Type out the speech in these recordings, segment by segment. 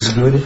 Is it ready?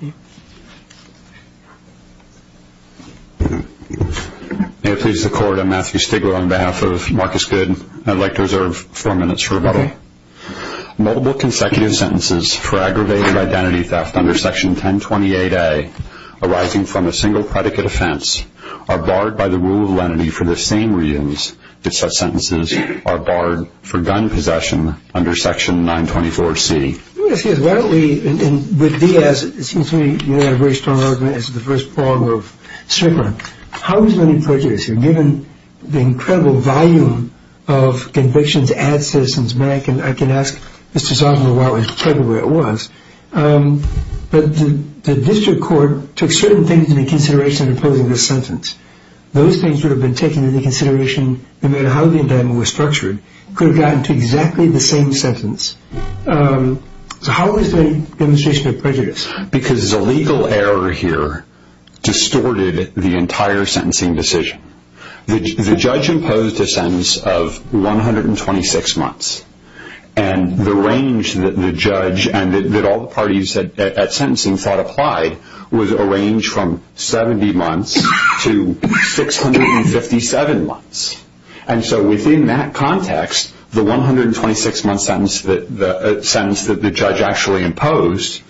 May it please the Court, I'm Matthew Stigler on behalf of Marcus Good and I'd like to reserve four minutes for rebuttal. Multiple consecutive sentences for aggravated identity theft under Section 1028A arising from a single predicate offense are barred by the rule of lenity for the same reasons that such sentences are barred for gun possession under Section 924C. Let me ask you this, why don't we, with Diaz, it seems to me you have a very strong argument as to the first problem of Strickland. How is money purchased here, given the incredible volume of convictions at Citizens Bank? And I can ask Mr. Zawinul why it was treasured the way it was. But the District Court took certain things into consideration in imposing this sentence. Those things would have been taken into consideration no matter how the indictment was structured. It could have gotten to exactly the same sentence. So how is the demonstration of prejudice? Because the legal error here distorted the entire sentencing decision. The judge imposed a sentence of 126 months. And the range that the judge and all the parties at sentencing thought applied was a range from 70 months to 657 months. And so within that context, the 126-month sentence that the judge actually imposed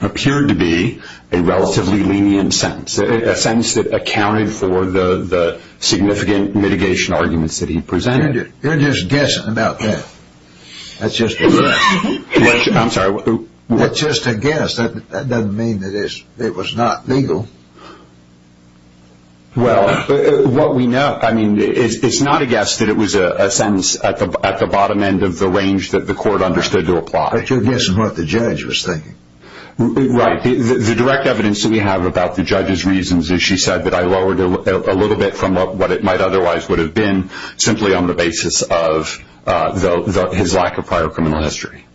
appeared to be a relatively lenient sentence. A sentence that accounted for the significant mitigation arguments that he presented. You're just guessing about that. That's just a guess. I'm sorry? That's just a guess. That doesn't mean that it was not legal. Well, what we know, I mean, it's not a guess that it was a sentence at the bottom end of the range that the court understood to apply. But you're guessing what the judge was thinking. Right. The direct evidence that we have about the judge's reasons is she said that I lowered it a little bit from what it might otherwise would have been simply on the basis of his lack of prior criminal history.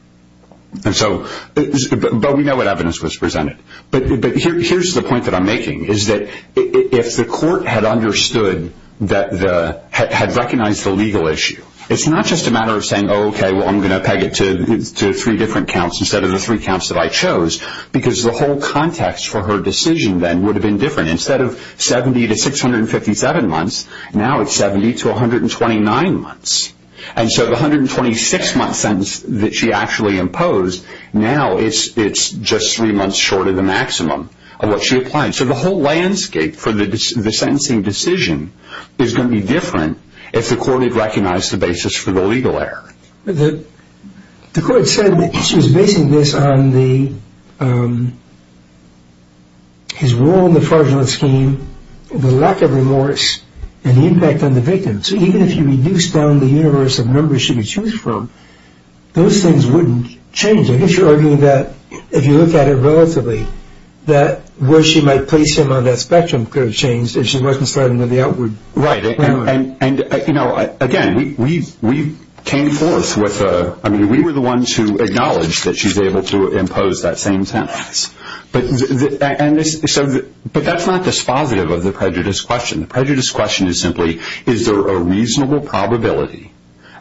But we know what evidence was presented. But here's the point that I'm making, is that if the court had understood, had recognized the legal issue, it's not just a matter of saying, oh, okay, well, I'm going to peg it to three different counts instead of the three counts that I chose. Because the whole context for her decision then would have been different. Instead of 70 to 657 months, now it's 70 to 129 months. And so the 126-month sentence that she actually imposed, now it's just three months short of the maximum of what she applied. So the whole landscape for the sentencing decision is going to be different if the court had recognized the basis for the legal error. The court said that she was basing this on his role in the fraudulent scheme, the lack of remorse, and the impact on the victim. So even if you reduced down the universe of numbers she could choose from, those things wouldn't change. I guess you're arguing that if you look at it relatively, that where she might place him on that spectrum could have changed if she wasn't starting with the outward. Right. And, you know, again, we came forth with a – I mean, we were the ones who acknowledged that she was able to impose that same sentence. But that's not dispositive of the prejudice question. The prejudice question is simply is there a reasonable probability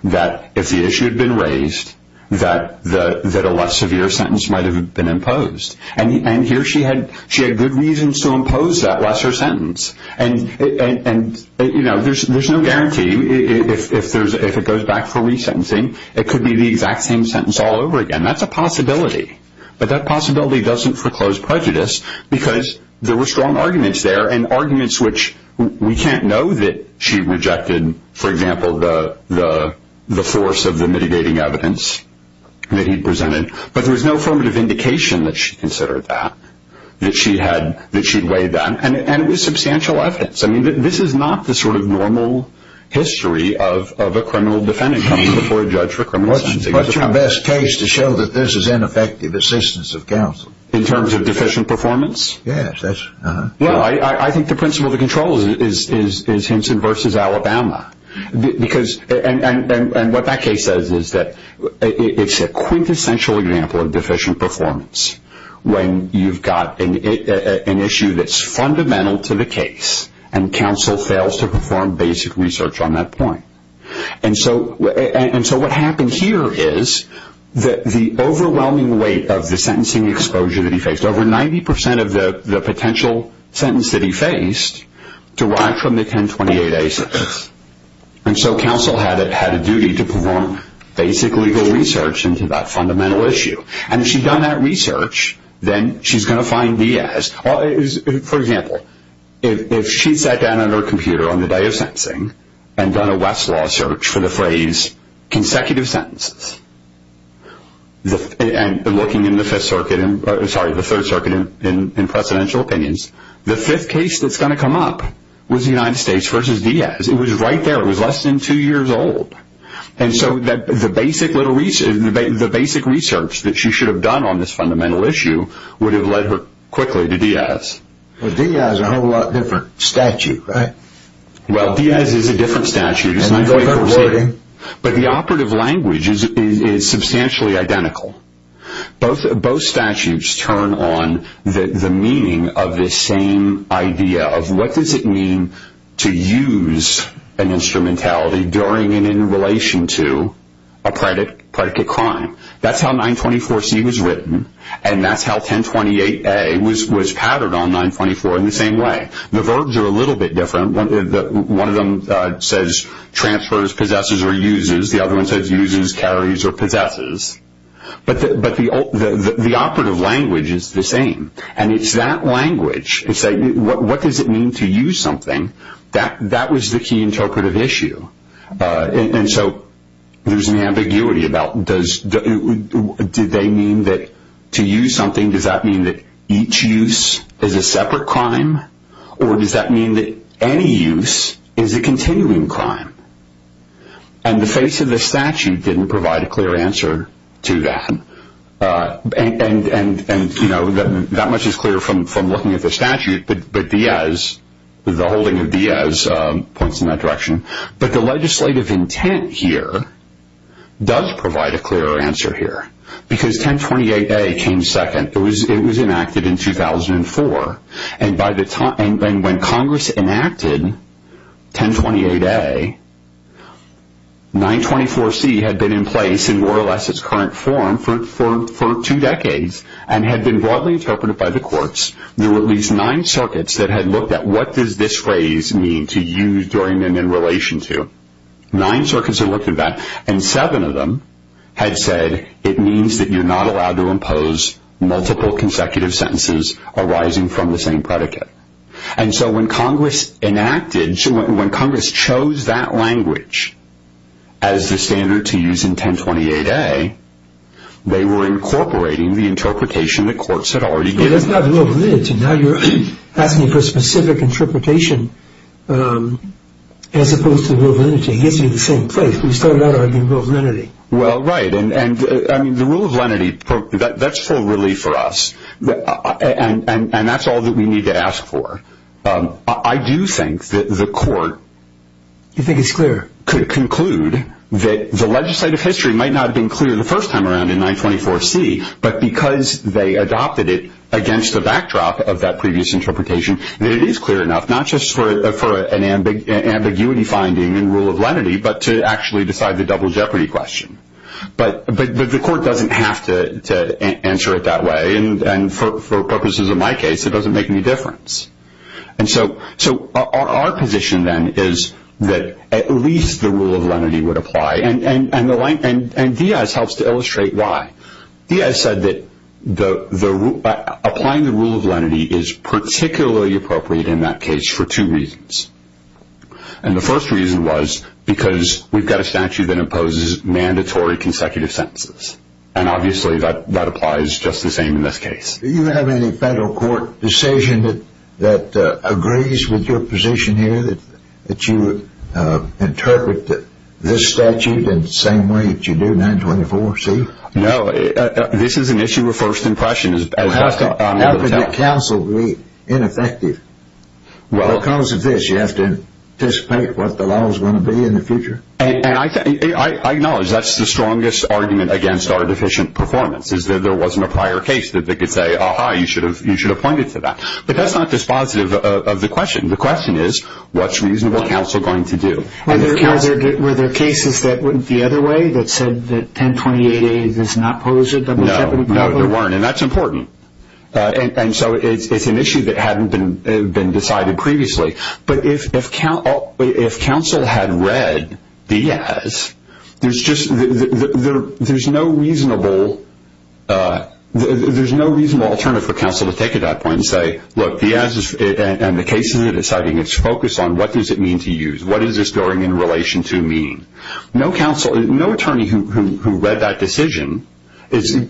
that if the issue had been raised that a less severe sentence might have been imposed. And here she had good reasons to impose that lesser sentence. And, you know, there's no guarantee if it goes back for resentencing it could be the exact same sentence all over again. That's a possibility. But that possibility doesn't foreclose prejudice because there were strong arguments there, and arguments which we can't know that she rejected, for example, the force of the mitigating evidence that he presented. But there was no affirmative indication that she considered that, that she'd weighed that. And it was substantial evidence. I mean, this is not the sort of normal history of a criminal defendant coming before a judge for criminal sentencing. What's your best case to show that this is ineffective assistance of counsel? In terms of deficient performance? Yes. Well, I think the principle of the control is Hinson versus Alabama. Because – and what that case says is that it's a quintessential example of deficient performance when you've got an issue that's fundamental to the case and counsel fails to perform basic research on that point. And so what happened here is that the overwhelming weight of the sentencing exposure that he faced, over 90% of the potential sentence that he faced derived from the 1028-A sentence. And so counsel had a duty to perform basic legal research into that fundamental issue. And if she'd done that research, then she's going to find B as – for example, if she sat down on her computer on the day of sentencing and done a Westlaw search for the phrase consecutive sentences, and looking in the Fifth Circuit – sorry, the Third Circuit in presidential opinions, the fifth case that's going to come up was the United States versus Diaz. It was right there. It was less than two years old. And so the basic research that she should have done on this fundamental issue would have led her quickly to Diaz. But Diaz is a whole lot different statute, right? Well, Diaz is a different statute. But the operative language is substantially identical. Both statutes turn on the meaning of this same idea of what does it mean to use an instrumentality during and in relation to a predicate crime. That's how 924C was written, and that's how 1028A was patterned on 924 in the same way. The verbs are a little bit different. One of them says transfers, possesses, or uses. The other one says uses, carries, or possesses. But the operative language is the same, and it's that language. It's like what does it mean to use something? That was the key interpretive issue. And so there's an ambiguity about did they mean that to use something, does that mean that each use is a separate crime, or does that mean that any use is a continuing crime? And the face of the statute didn't provide a clear answer to that. And, you know, that much is clear from looking at the statute, but Diaz, the holding of Diaz, points in that direction. But the legislative intent here does provide a clearer answer here because 1028A came second. It was enacted in 2004, and when Congress enacted 1028A, 924C had been in place in more or less its current form for two decades and had been broadly interpreted by the courts. There were at least nine circuits that had looked at what does this phrase mean to use during and in relation to. Nine circuits had looked at that, and seven of them had said it means that you're not allowed to impose multiple consecutive sentences arising from the same predicate. And so when Congress chose that language as the standard to use in 1028A, they were incorporating the interpretation that courts had already given. But that's not the rule of lenity. Now you're asking for specific interpretation as opposed to the rule of lenity. It gets you in the same place. We started out arguing the rule of lenity. Well, right, and the rule of lenity, that's full relief for us, and that's all that we need to ask for. I do think that the court could conclude that the legislative history might not have been clear the first time around in 924C, but because they adopted it against the backdrop of that previous interpretation, that it is clear enough, not just for an ambiguity finding in rule of lenity, but to actually decide the double jeopardy question. But the court doesn't have to answer it that way, and for purposes of my case, it doesn't make any difference. And so our position then is that at least the rule of lenity would apply, and Diaz helps to illustrate why. Diaz said that applying the rule of lenity is particularly appropriate in that case for two reasons. And the first reason was because we've got a statute that imposes mandatory consecutive sentences, and obviously that applies just the same in this case. Do you have any federal court decision that agrees with your position here that you interpret this statute in the same way that you do 924C? No. This is an issue of first impression. How can your counsel be ineffective? Because of this, you have to anticipate what the law is going to be in the future? And I acknowledge that's the strongest argument against our deficient performance, is that there wasn't a prior case that they could say, ah-ha, you should have pointed to that. But that's not dispositive of the question. The question is what's reasonable counsel going to do? Were there cases that went the other way that said that 1028A does not pose a double jeopardy problem? No, there weren't, and that's important. And so it's an issue that hadn't been decided previously. But if counsel had read Diaz, there's no reasonable alternative for counsel to take at that point and say, look, Diaz and the cases that it's citing, it's focused on what does it mean to use? What is this going in relation to mean? No counsel, no attorney who read that decision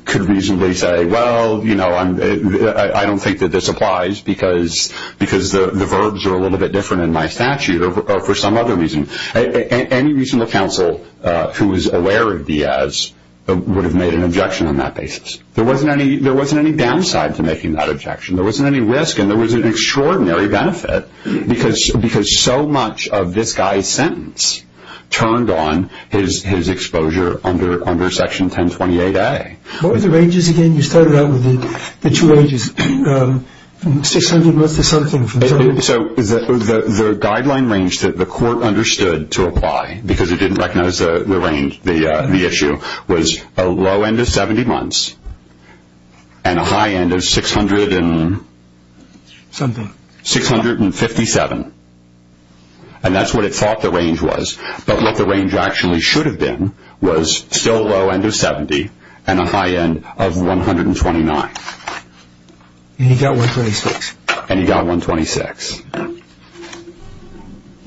could reasonably say, well, you know, I don't think that this applies because the verbs are a little bit different in my statute or for some other reason. Any reasonable counsel who is aware of Diaz would have made an objection on that basis. There wasn't any downside to making that objection. There wasn't any risk, and there was an extraordinary benefit, because so much of this guy's sentence turned on his exposure under Section 1028A. What were the ranges again? You started out with the two ranges, 600 months to something. So the guideline range that the court understood to apply, because it didn't recognize the issue, was a low end of 70 months and a high end of 600 and something, 657. And that's what it thought the range was. But what the range actually should have been was still low end of 70 and a high end of 129. And he got 126. And he got 126.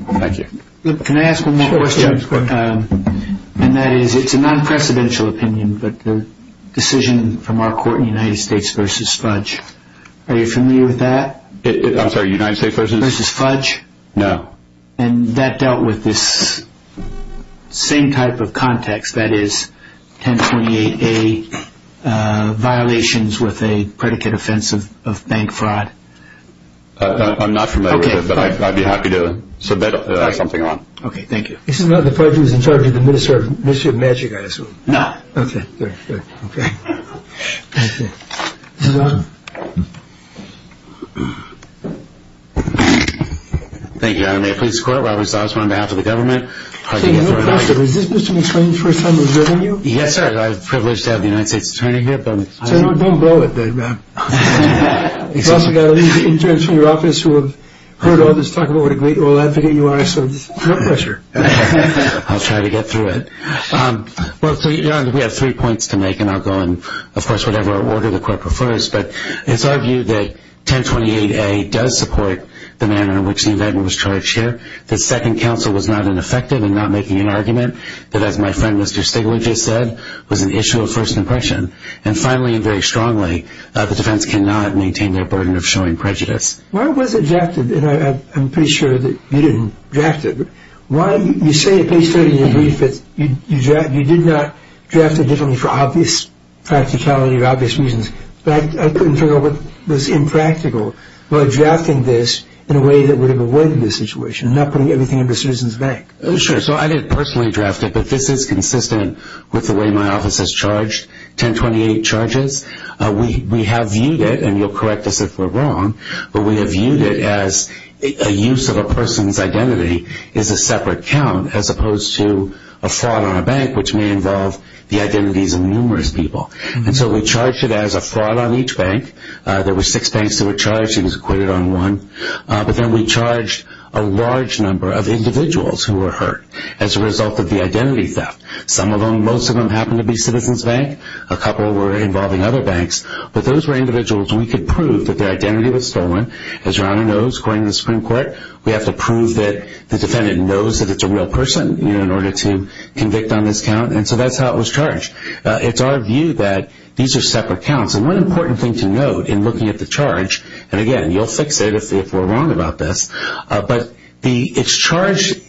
Thank you. Can I ask one more question? Sure. And that is, it's a non-precedential opinion, but the decision from our court in the United States versus Fudge, are you familiar with that? I'm sorry, United States versus? Versus Fudge. No. And that dealt with this same type of context, that is, 1028A violations with a predicate offense of bank fraud. I'm not familiar with it, but I'd be happy to submit something on it. Okay, thank you. This is not the Fudge who's in charge of the Ministry of Magic, I assume? No. Okay, good, good, okay. Thank you, Your Honor. May it please the Court, Robert Stobbs on behalf of the government. Mr. McSweeney, is this Mr. McSweeney's first time interviewing you? Yes, sir. I have the privilege to have the United States Attorney here. Don't blow it, then. You've also got interns from your office who have heard all this talk about what a great law advocate you are, so no pressure. I'll try to get through it. Well, Your Honor, we have three points to make, and I'll go in, of course, whatever order the Court prefers. But it's our view that 1028A does support the manner in which the indictment was charged here, that Second Counsel was not ineffective in not making an argument, that, as my friend Mr. Stigler just said, was an issue of first impression. And finally, and very strongly, the defense cannot maintain their burden of showing prejudice. Why was it drafted? And I'm pretty sure that you didn't draft it. You say at page 30 in your brief that you did not draft it for obvious practicality or obvious reasons, but I couldn't figure out what was impractical about drafting this in a way that would have avoided this situation, not putting everything under Citizens Bank. Sure. So I didn't personally draft it, but this is consistent with the way my office has charged 1028 charges. We have viewed it, and you'll correct us if we're wrong, but we have viewed it as a use of a person's identity is a separate count as opposed to a fraud on a bank, which may involve the identities of numerous people. And so we charged it as a fraud on each bank. There were six banks that were charged. He was acquitted on one. But then we charged a large number of individuals who were hurt as a result of the identity theft. Some of them, most of them, happened to be Citizens Bank. A couple were involving other banks. But those were individuals we could prove that their identity was stolen. As Ronna knows, according to the Supreme Court, we have to prove that the defendant knows that it's a real person in order to convict on this count. And so that's how it was charged. It's our view that these are separate counts. And one important thing to note in looking at the charge, and, again, you'll fix it if we're wrong about this, but it's charged,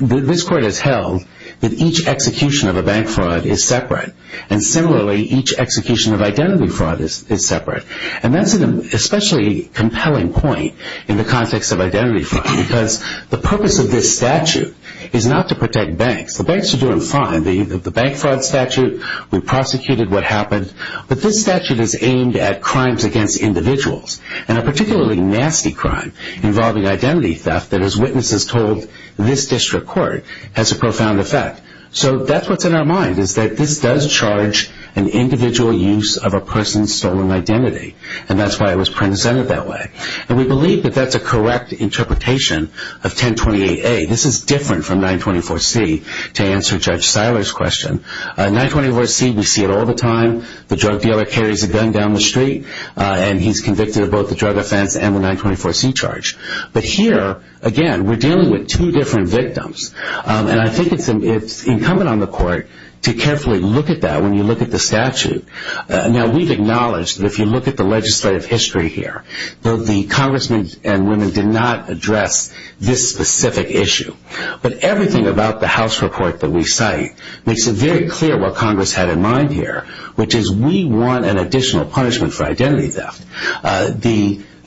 this court has held, that each execution of a bank fraud is separate. And, similarly, each execution of identity fraud is separate. And that's an especially compelling point in the context of identity fraud because the purpose of this statute is not to protect banks. The banks are doing fine. The bank fraud statute, we prosecuted what happened. But this statute is aimed at crimes against individuals. And a particularly nasty crime involving identity theft that, as witnesses told this district court, has a profound effect. So that's what's in our mind, is that this does charge an individual use of a person's stolen identity. And that's why it was presented that way. And we believe that that's a correct interpretation of 1028A. This is different from 924C, to answer Judge Seiler's question. 924C, we see it all the time. The drug dealer carries a gun down the street, and he's convicted of both the drug offense and the 924C charge. But here, again, we're dealing with two different victims. And I think it's incumbent on the court to carefully look at that when you look at the statute. Now, we've acknowledged that if you look at the legislative history here, that the congressmen and women did not address this specific issue. But everything about the House report that we cite makes it very clear what Congress had in mind here, which is we want an additional punishment for identity theft.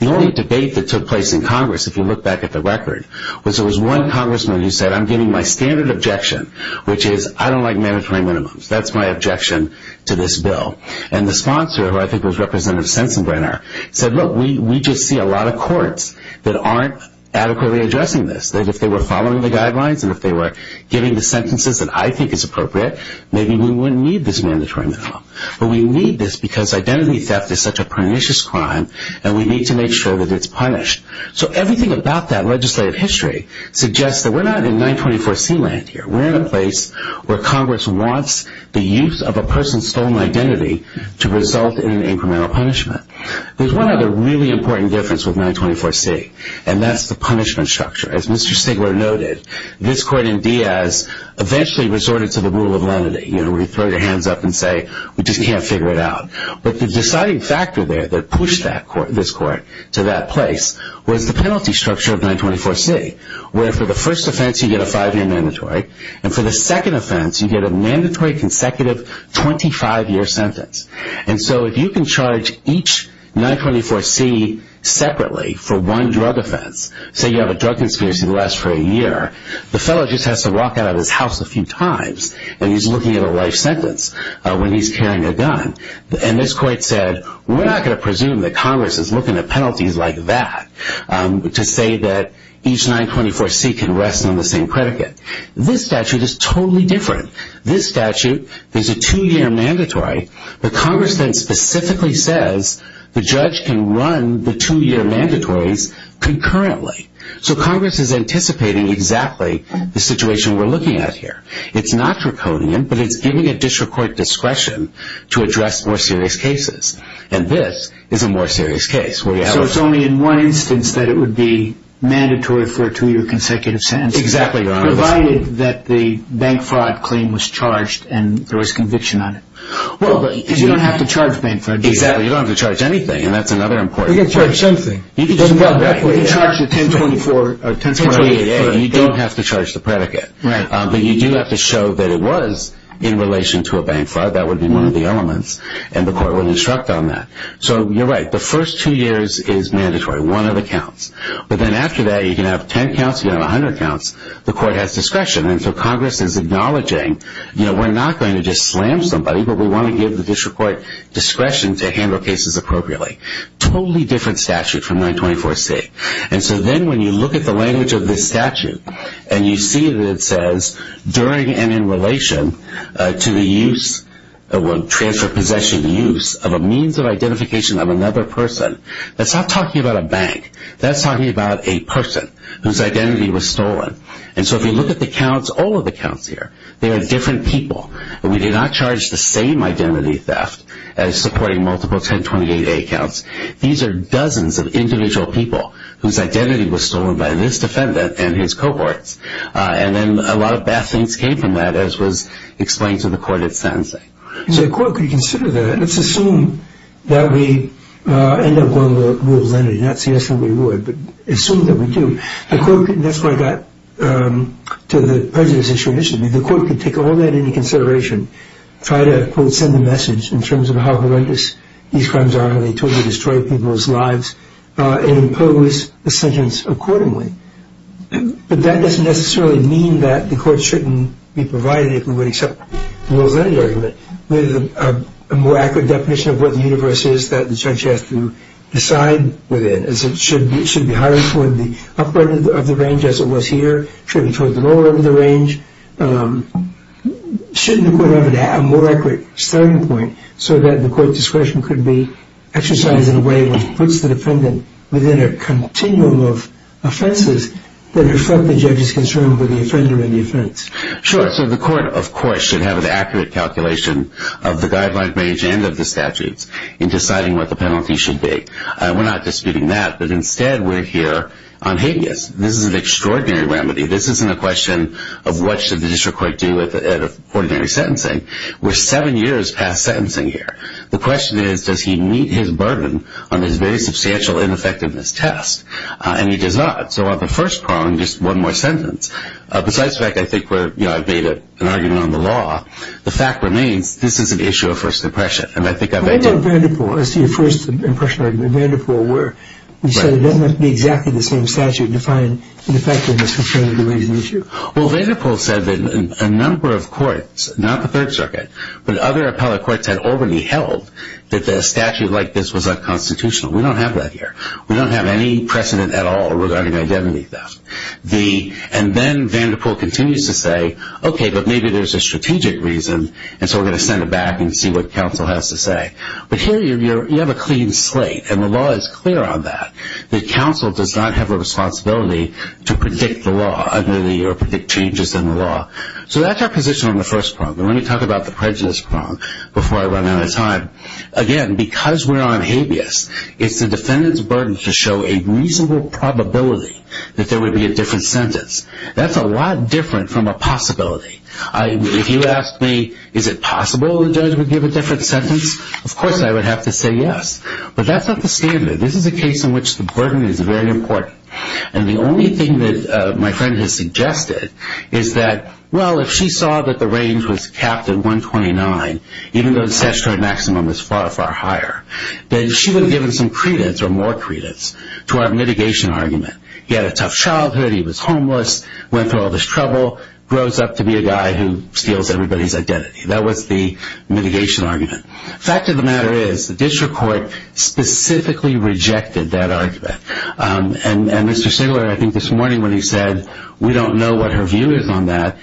The only debate that took place in Congress, if you look back at the record, was there was one congressman who said, I'm giving my standard objection, which is I don't like mandatory minimums. That's my objection to this bill. And the sponsor, who I think was Representative Sensenbrenner, said, look, we just see a lot of courts that aren't adequately addressing this. That if they were following the guidelines and if they were giving the sentences that I think is appropriate, maybe we wouldn't need this mandatory minimum. But we need this because identity theft is such a pernicious crime, and we need to make sure that it's punished. So everything about that legislative history suggests that we're not in 924C land here. We're in a place where Congress wants the use of a person's stolen identity to result in an incremental punishment. There's one other really important difference with 924C, and that's the punishment structure. As Mr. Stigler noted, this court in Diaz eventually resorted to the rule of lenity, where you throw your hands up and say, we just can't figure it out. But the deciding factor there that pushed this court to that place was the penalty structure of 924C, where for the first offense, you get a five-year mandatory. And for the second offense, you get a mandatory consecutive 25-year sentence. And so if you can charge each 924C separately for one drug offense, say you have a drug conspiracy that lasts for a year, the fellow just has to walk out of his house a few times and he's looking at a life sentence when he's carrying a gun. And this court said, we're not going to presume that Congress is looking at penalties like that to say that each 924C can rest on the same predicate. This statute is totally different. This statute is a two-year mandatory. But Congress then specifically says the judge can run the two-year mandatories concurrently. So Congress is anticipating exactly the situation we're looking at here. It's not draconian, but it's giving a district court discretion to address more serious cases. And this is a more serious case. So it's only in one instance that it would be mandatory for a two-year consecutive sentence. Exactly, Your Honor. Provided that the bank fraud claim was charged and there was conviction on it. Because you don't have to charge bank fraud. Exactly, you don't have to charge anything, and that's another important point. You can charge something. You can charge the 1024 or 1028. You don't have to charge the predicate. But you do have to show that it was in relation to a bank fraud. That would be one of the elements, and the court would instruct on that. So you're right. The first two years is mandatory, one of the counts. But then after that, you can have 10 counts, you can have 100 counts. The court has discretion. And so Congress is acknowledging we're not going to just slam somebody, but we want to give the district court discretion to handle cases appropriately. Totally different statute from 924C. And so then when you look at the language of this statute and you see that it says during and in relation to the use, or transfer of possession to use of a means of identification of another person, that's not talking about a bank. That's talking about a person whose identity was stolen. And so if you look at the counts, all of the counts here, they are different people. We did not charge the same identity theft as supporting multiple 1028A counts. These are dozens of individual people whose identity was stolen by this defendant and his cohorts. And then a lot of bad things came from that, as was explained to the court at sentencing. So the court could consider that. Let's assume that we end up going with the rule of lenity, not see us when we would, but assume that we do. That's why I got to the prejudice issue initially. The court could take all that into consideration, try to, quote, send a message in terms of how horrendous these crimes are, how they totally destroy people's lives, and impose a sentence accordingly. But that doesn't necessarily mean that the court shouldn't be provided if we would accept the rule of lenity argument with a more accurate definition of what the universe is that the judge has to decide within, as it should be higher toward the upper end of the range as it was here, should be toward the lower end of the range. Shouldn't the court have a more accurate starting point so that the court discretion could be exercised in a way which puts the defendant within a continuum of offenses that reflect the judge's concern for the offender and the offense? Sure. So the court, of course, should have an accurate calculation of the guideline range and of the statutes in deciding what the penalty should be. We're not disputing that, but instead we're here on habeas. This is an extraordinary remedy. This isn't a question of what should the district court do with ordinary sentencing. We're seven years past sentencing here. The question is, does he meet his burden on this very substantial ineffectiveness test? And he does not. So on the first prong, just one more sentence. Besides the fact, I think, where I've made an argument on the law, the fact remains this is an issue of first impression. What about Vanderpool as to your first impression argument? Vanderpool, where you said it doesn't have to be exactly the same statute to define ineffectiveness concerning the reason issue. Well, Vanderpool said that a number of courts, not the Third Circuit, but other appellate courts had already held that a statute like this was unconstitutional. We don't have that here. We don't have any precedent at all regarding identity theft. And then Vanderpool continues to say, okay, but maybe there's a strategic reason, and so we're going to send it back and see what counsel has to say. But here you have a clean slate, and the law is clear on that, that counsel does not have a responsibility to predict the law or predict changes in the law. So that's our position on the first prong. Let me talk about the prejudice prong before I run out of time. Again, because we're on habeas, it's the defendant's burden to show a reasonable probability that there would be a different sentence. That's a lot different from a possibility. If you ask me, is it possible the judge would give a different sentence, of course I would have to say yes. But that's not the standard. This is a case in which the burden is very important. And the only thing that my friend has suggested is that, well, if she saw that the range was capped at 129, even though the statutory maximum is far, far higher, then she would have given some credence or more credence to our mitigation argument. He had a tough childhood, he was homeless, went through all this trouble, grows up to be a guy who steals everybody's identity. That was the mitigation argument. The fact of the matter is the district court specifically rejected that argument. And Mr. Singler, I think this morning when he said we don't know what her view is on that,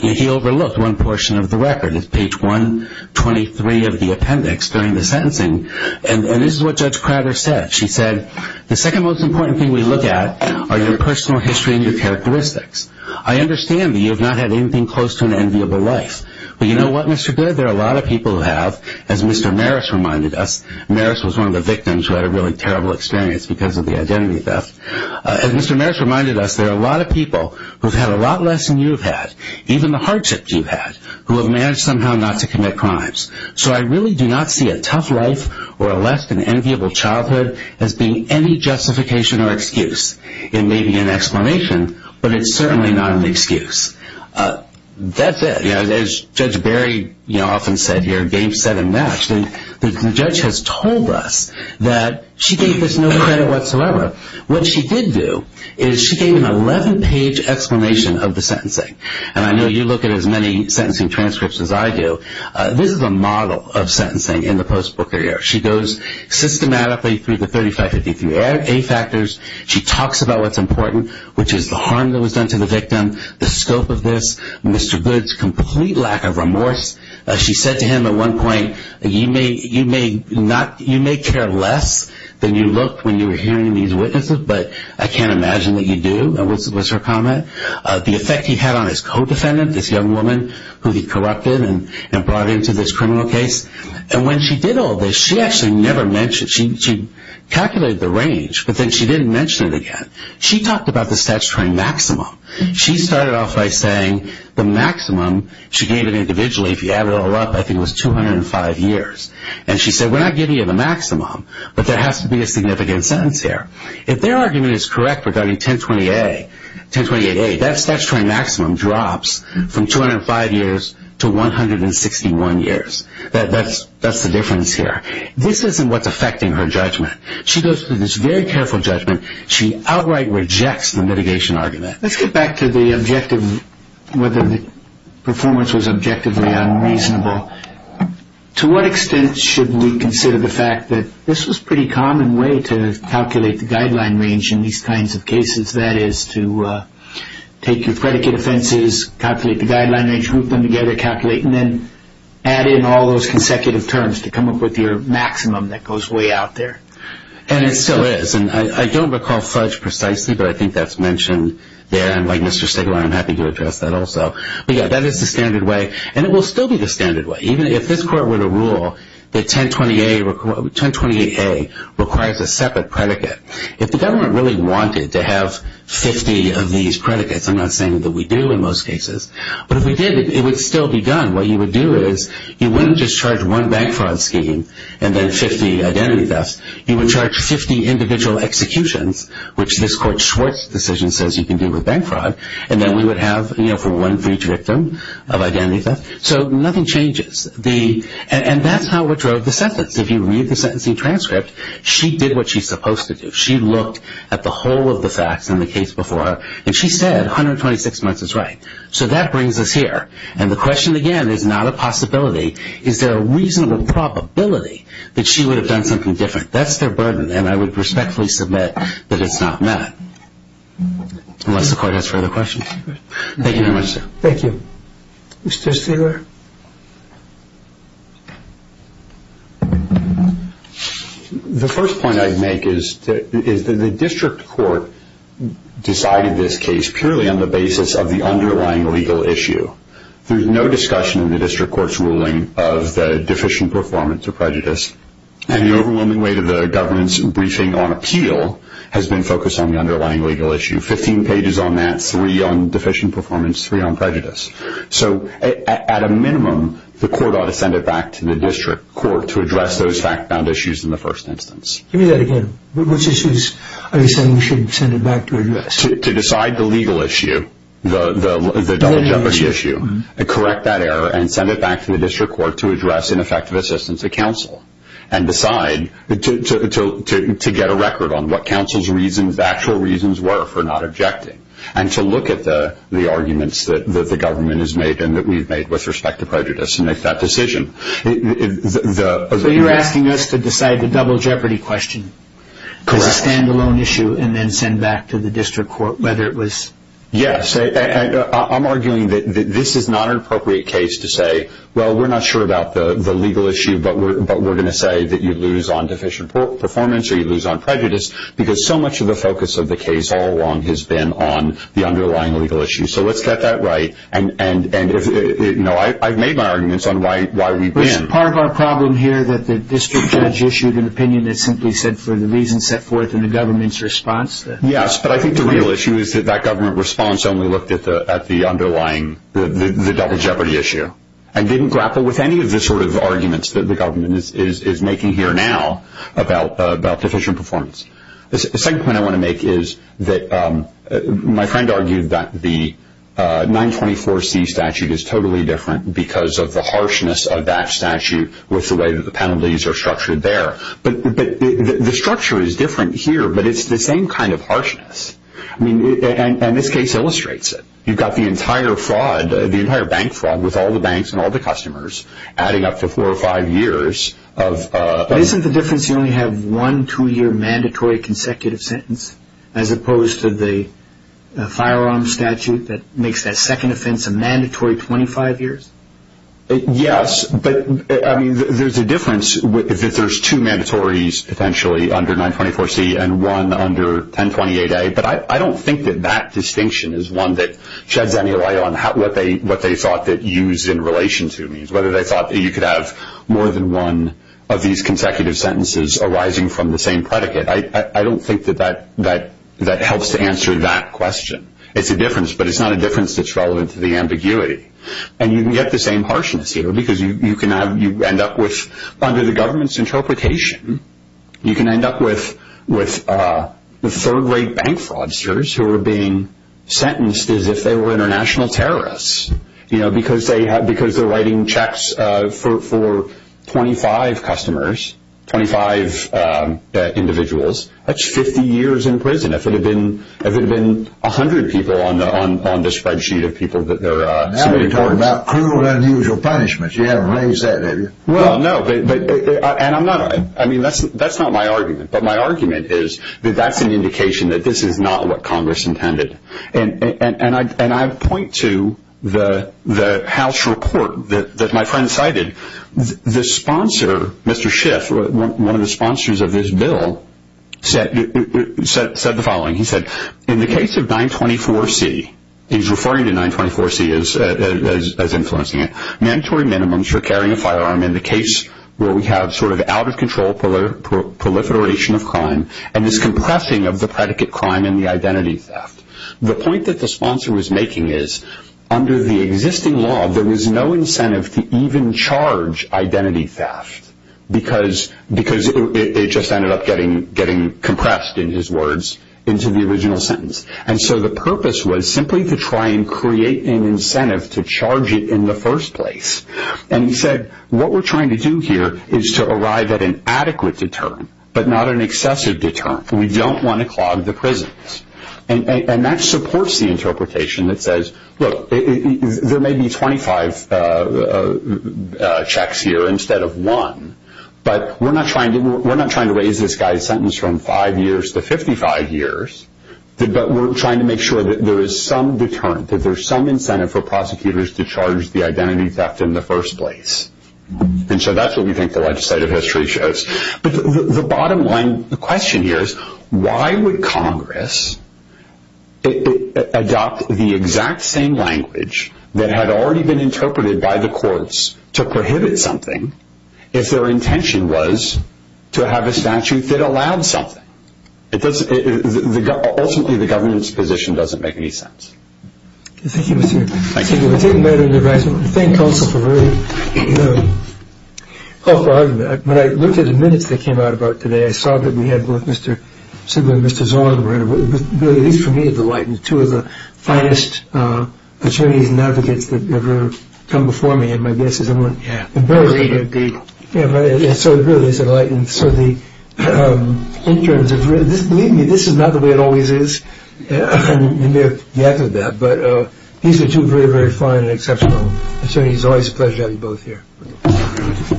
he overlooked one portion of the record. It's page 123 of the appendix during the sentencing. And this is what Judge Crowder said. She said, the second most important thing we look at are your personal history and your characteristics. I understand that you have not had anything close to an enviable life. But you know what, Mr. Goode, there are a lot of people who have, as Mr. Maris reminded us, Maris was one of the victims who had a really terrible experience because of the identity theft. As Mr. Maris reminded us, there are a lot of people who have had a lot less than you have had, even the hardship you've had, who have managed somehow not to commit crimes. So I really do not see a tough life or a less than enviable childhood as being any justification or excuse. It may be an explanation, but it's certainly not an excuse. That's it. As Judge Berry often said here, game, set, and match, the judge has told us that she gave this no credit whatsoever. What she did do is she gave an 11-page explanation of the sentencing. And I know you look at as many sentencing transcripts as I do. This is a model of sentencing in the post-Booker year. She goes systematically through the 35-53A factors. She talks about what's important, which is the harm that was done to the victim, the scope of this, Mr. Goode's complete lack of remorse. She said to him at one point, you may care less than you looked when you were hearing these witnesses, but I can't imagine that you do, was her comment. The effect he had on his co-defendant, this young woman who he corrupted and brought into this criminal case. And when she did all this, she actually never mentioned, she calculated the range, but then she didn't mention it again. She talked about the statutory maximum. She started off by saying the maximum she gave him individually, if you add it all up, I think it was 205 years. And she said we're not giving you the maximum, but there has to be a significant sentence here. If their argument is correct regarding 1028A, that statutory maximum drops from 205 years to 161 years. That's the difference here. This isn't what's affecting her judgment. She goes through this very careful judgment. She outright rejects the mitigation argument. Let's get back to the objective, whether the performance was objectively unreasonable. To what extent should we consider the fact that this was a pretty common way to calculate the guideline range in these kinds of cases, that is to take your predicate offenses, calculate the guideline range, group them together, calculate, and then add in all those consecutive terms to come up with your maximum that goes way out there. And it still is. And I don't recall Fudge precisely, but I think that's mentioned there. And like Mr. Stigler, I'm happy to address that also. But, yeah, that is the standard way, and it will still be the standard way. Even if this court were to rule that 1028A requires a separate predicate, if the government really wanted to have 50 of these predicates, I'm not saying that we do in most cases, but if we did, it would still be done. What you would do is you wouldn't just charge one bank fraud scheme and then 50 identity thefts. You would charge 50 individual executions, which this court's decision says you can do with bank fraud, and then we would have for one breach victim of identity theft. So nothing changes. And that's how we drove the sentence. If you read the sentencing transcript, she did what she's supposed to do. She looked at the whole of the facts in the case before her, and she said 126 months is right. So that brings us here. And the question again is not a possibility. Is there a reasonable probability that she would have done something different? That's their burden, and I would respectfully submit that it's not met, unless the court has further questions. Thank you very much, sir. Thank you. Mr. Steger? The first point I'd make is that the district court decided this case purely on the basis of the underlying legal issue. There's no discussion in the district court's ruling of the deficient performance or prejudice, and the overwhelming weight of the government's briefing on appeal has been focused on the underlying legal issue. Fifteen pages on that, three on deficient performance, three on prejudice. So at a minimum, the court ought to send it back to the district court to address those fact-bound issues in the first instance. Give me that again. Which issues are you saying we should send it back to address? To decide the legal issue, the double jeopardy issue, correct that error, and send it back to the district court to address an effective assistance to counsel and decide to get a record on what counsel's actual reasons were for not objecting and to look at the arguments that the government has made and that we've made with respect to prejudice and make that decision. So you're asking us to decide the double jeopardy question as a stand-alone issue and then send back to the district court whether it was? Yes. I'm arguing that this is not an appropriate case to say, well, we're not sure about the legal issue, but we're going to say that you lose on deficient performance or you lose on prejudice because so much of the focus of the case all along has been on the underlying legal issue. So let's get that right, and I've made my arguments on why we've been. Part of our problem here that the district judge issued an opinion that simply said for the reasons set forth in the government's response. Yes, but I think the real issue is that that government response only looked at the underlying, the double jeopardy issue and didn't grapple with any of the sort of arguments that the government is making here now about deficient performance. The second point I want to make is that my friend argued that the 924C statute is totally different because of the harshness of that statute with the way that the penalties are structured there. But the structure is different here, but it's the same kind of harshness, and this case illustrates it. You've got the entire bank fraud with all the banks and all the customers adding up to four or five years. Isn't the difference you only have one two-year mandatory consecutive sentence as opposed to the firearm statute that makes that second offense a mandatory 25 years? Yes, but there's a difference that there's two mandatories potentially under 924C and one under 1028A, but I don't think that that distinction is one that sheds any light on what they thought that use in relation to means, whether they thought that you could have more than one of these consecutive sentences arising from the same predicate. I don't think that that helps to answer that question. It's a difference, but it's not a difference that's relevant to the ambiguity. And you can get the same harshness here because you end up with, under the government's interpretation, you can end up with third-rate bank fraudsters who are being sentenced as if they were international terrorists because they're writing checks for 25 customers, 25 individuals. That's 50 years in prison. If it had been 100 people on the spreadsheet of people that there are... Now we're talking about cruel and unusual punishments. You haven't raised that, have you? Well, no, and that's not my argument, but my argument is that that's an indication that this is not what Congress intended. And I point to the House report that my friend cited. The sponsor, Mr. Schiff, one of the sponsors of this bill, said the following. He said, in the case of 924C, he's referring to 924C as influencing it, mandatory minimums for carrying a firearm in the case where we have sort of out-of-control proliferation of crime and this compressing of the predicate crime and the identity theft. The point that the sponsor was making is, under the existing law, there was no incentive to even charge identity theft because it just ended up getting compressed, in his words, into the original sentence. And so the purpose was simply to try and create an incentive to charge it in the first place. And he said, what we're trying to do here is to arrive at an adequate deterrent, but not an excessive deterrent. We don't want to clog the prisons. And that supports the interpretation that says, look, there may be 25 checks here instead of one, but we're not trying to raise this guy's sentence from five years to 55 years, but we're trying to make sure that there is some deterrent, that there's some incentive for prosecutors to charge the identity theft in the first place. And so that's what we think the legislative history shows. But the bottom line, the question here is, why would Congress adopt the exact same language that had already been interpreted by the courts to prohibit something if their intention was to have a statute that allowed something? Ultimately, the government's position doesn't make any sense. Thank you. Thank you, Mr. Chairman. Thank you. Thank you. Thank you. When I looked at the minutes that came out about today, I saw that we had both Mr. Sigler and Mr. Zorn. It was really, at least for me, a delight. Two of the finest attorneys and advocates that have ever come before me in my business. Yeah. So it really is a delight. And so in terms of this, believe me, this is not the way it always is. But these are two very, very fine and exceptional attorneys. Always a pleasure to have you both here.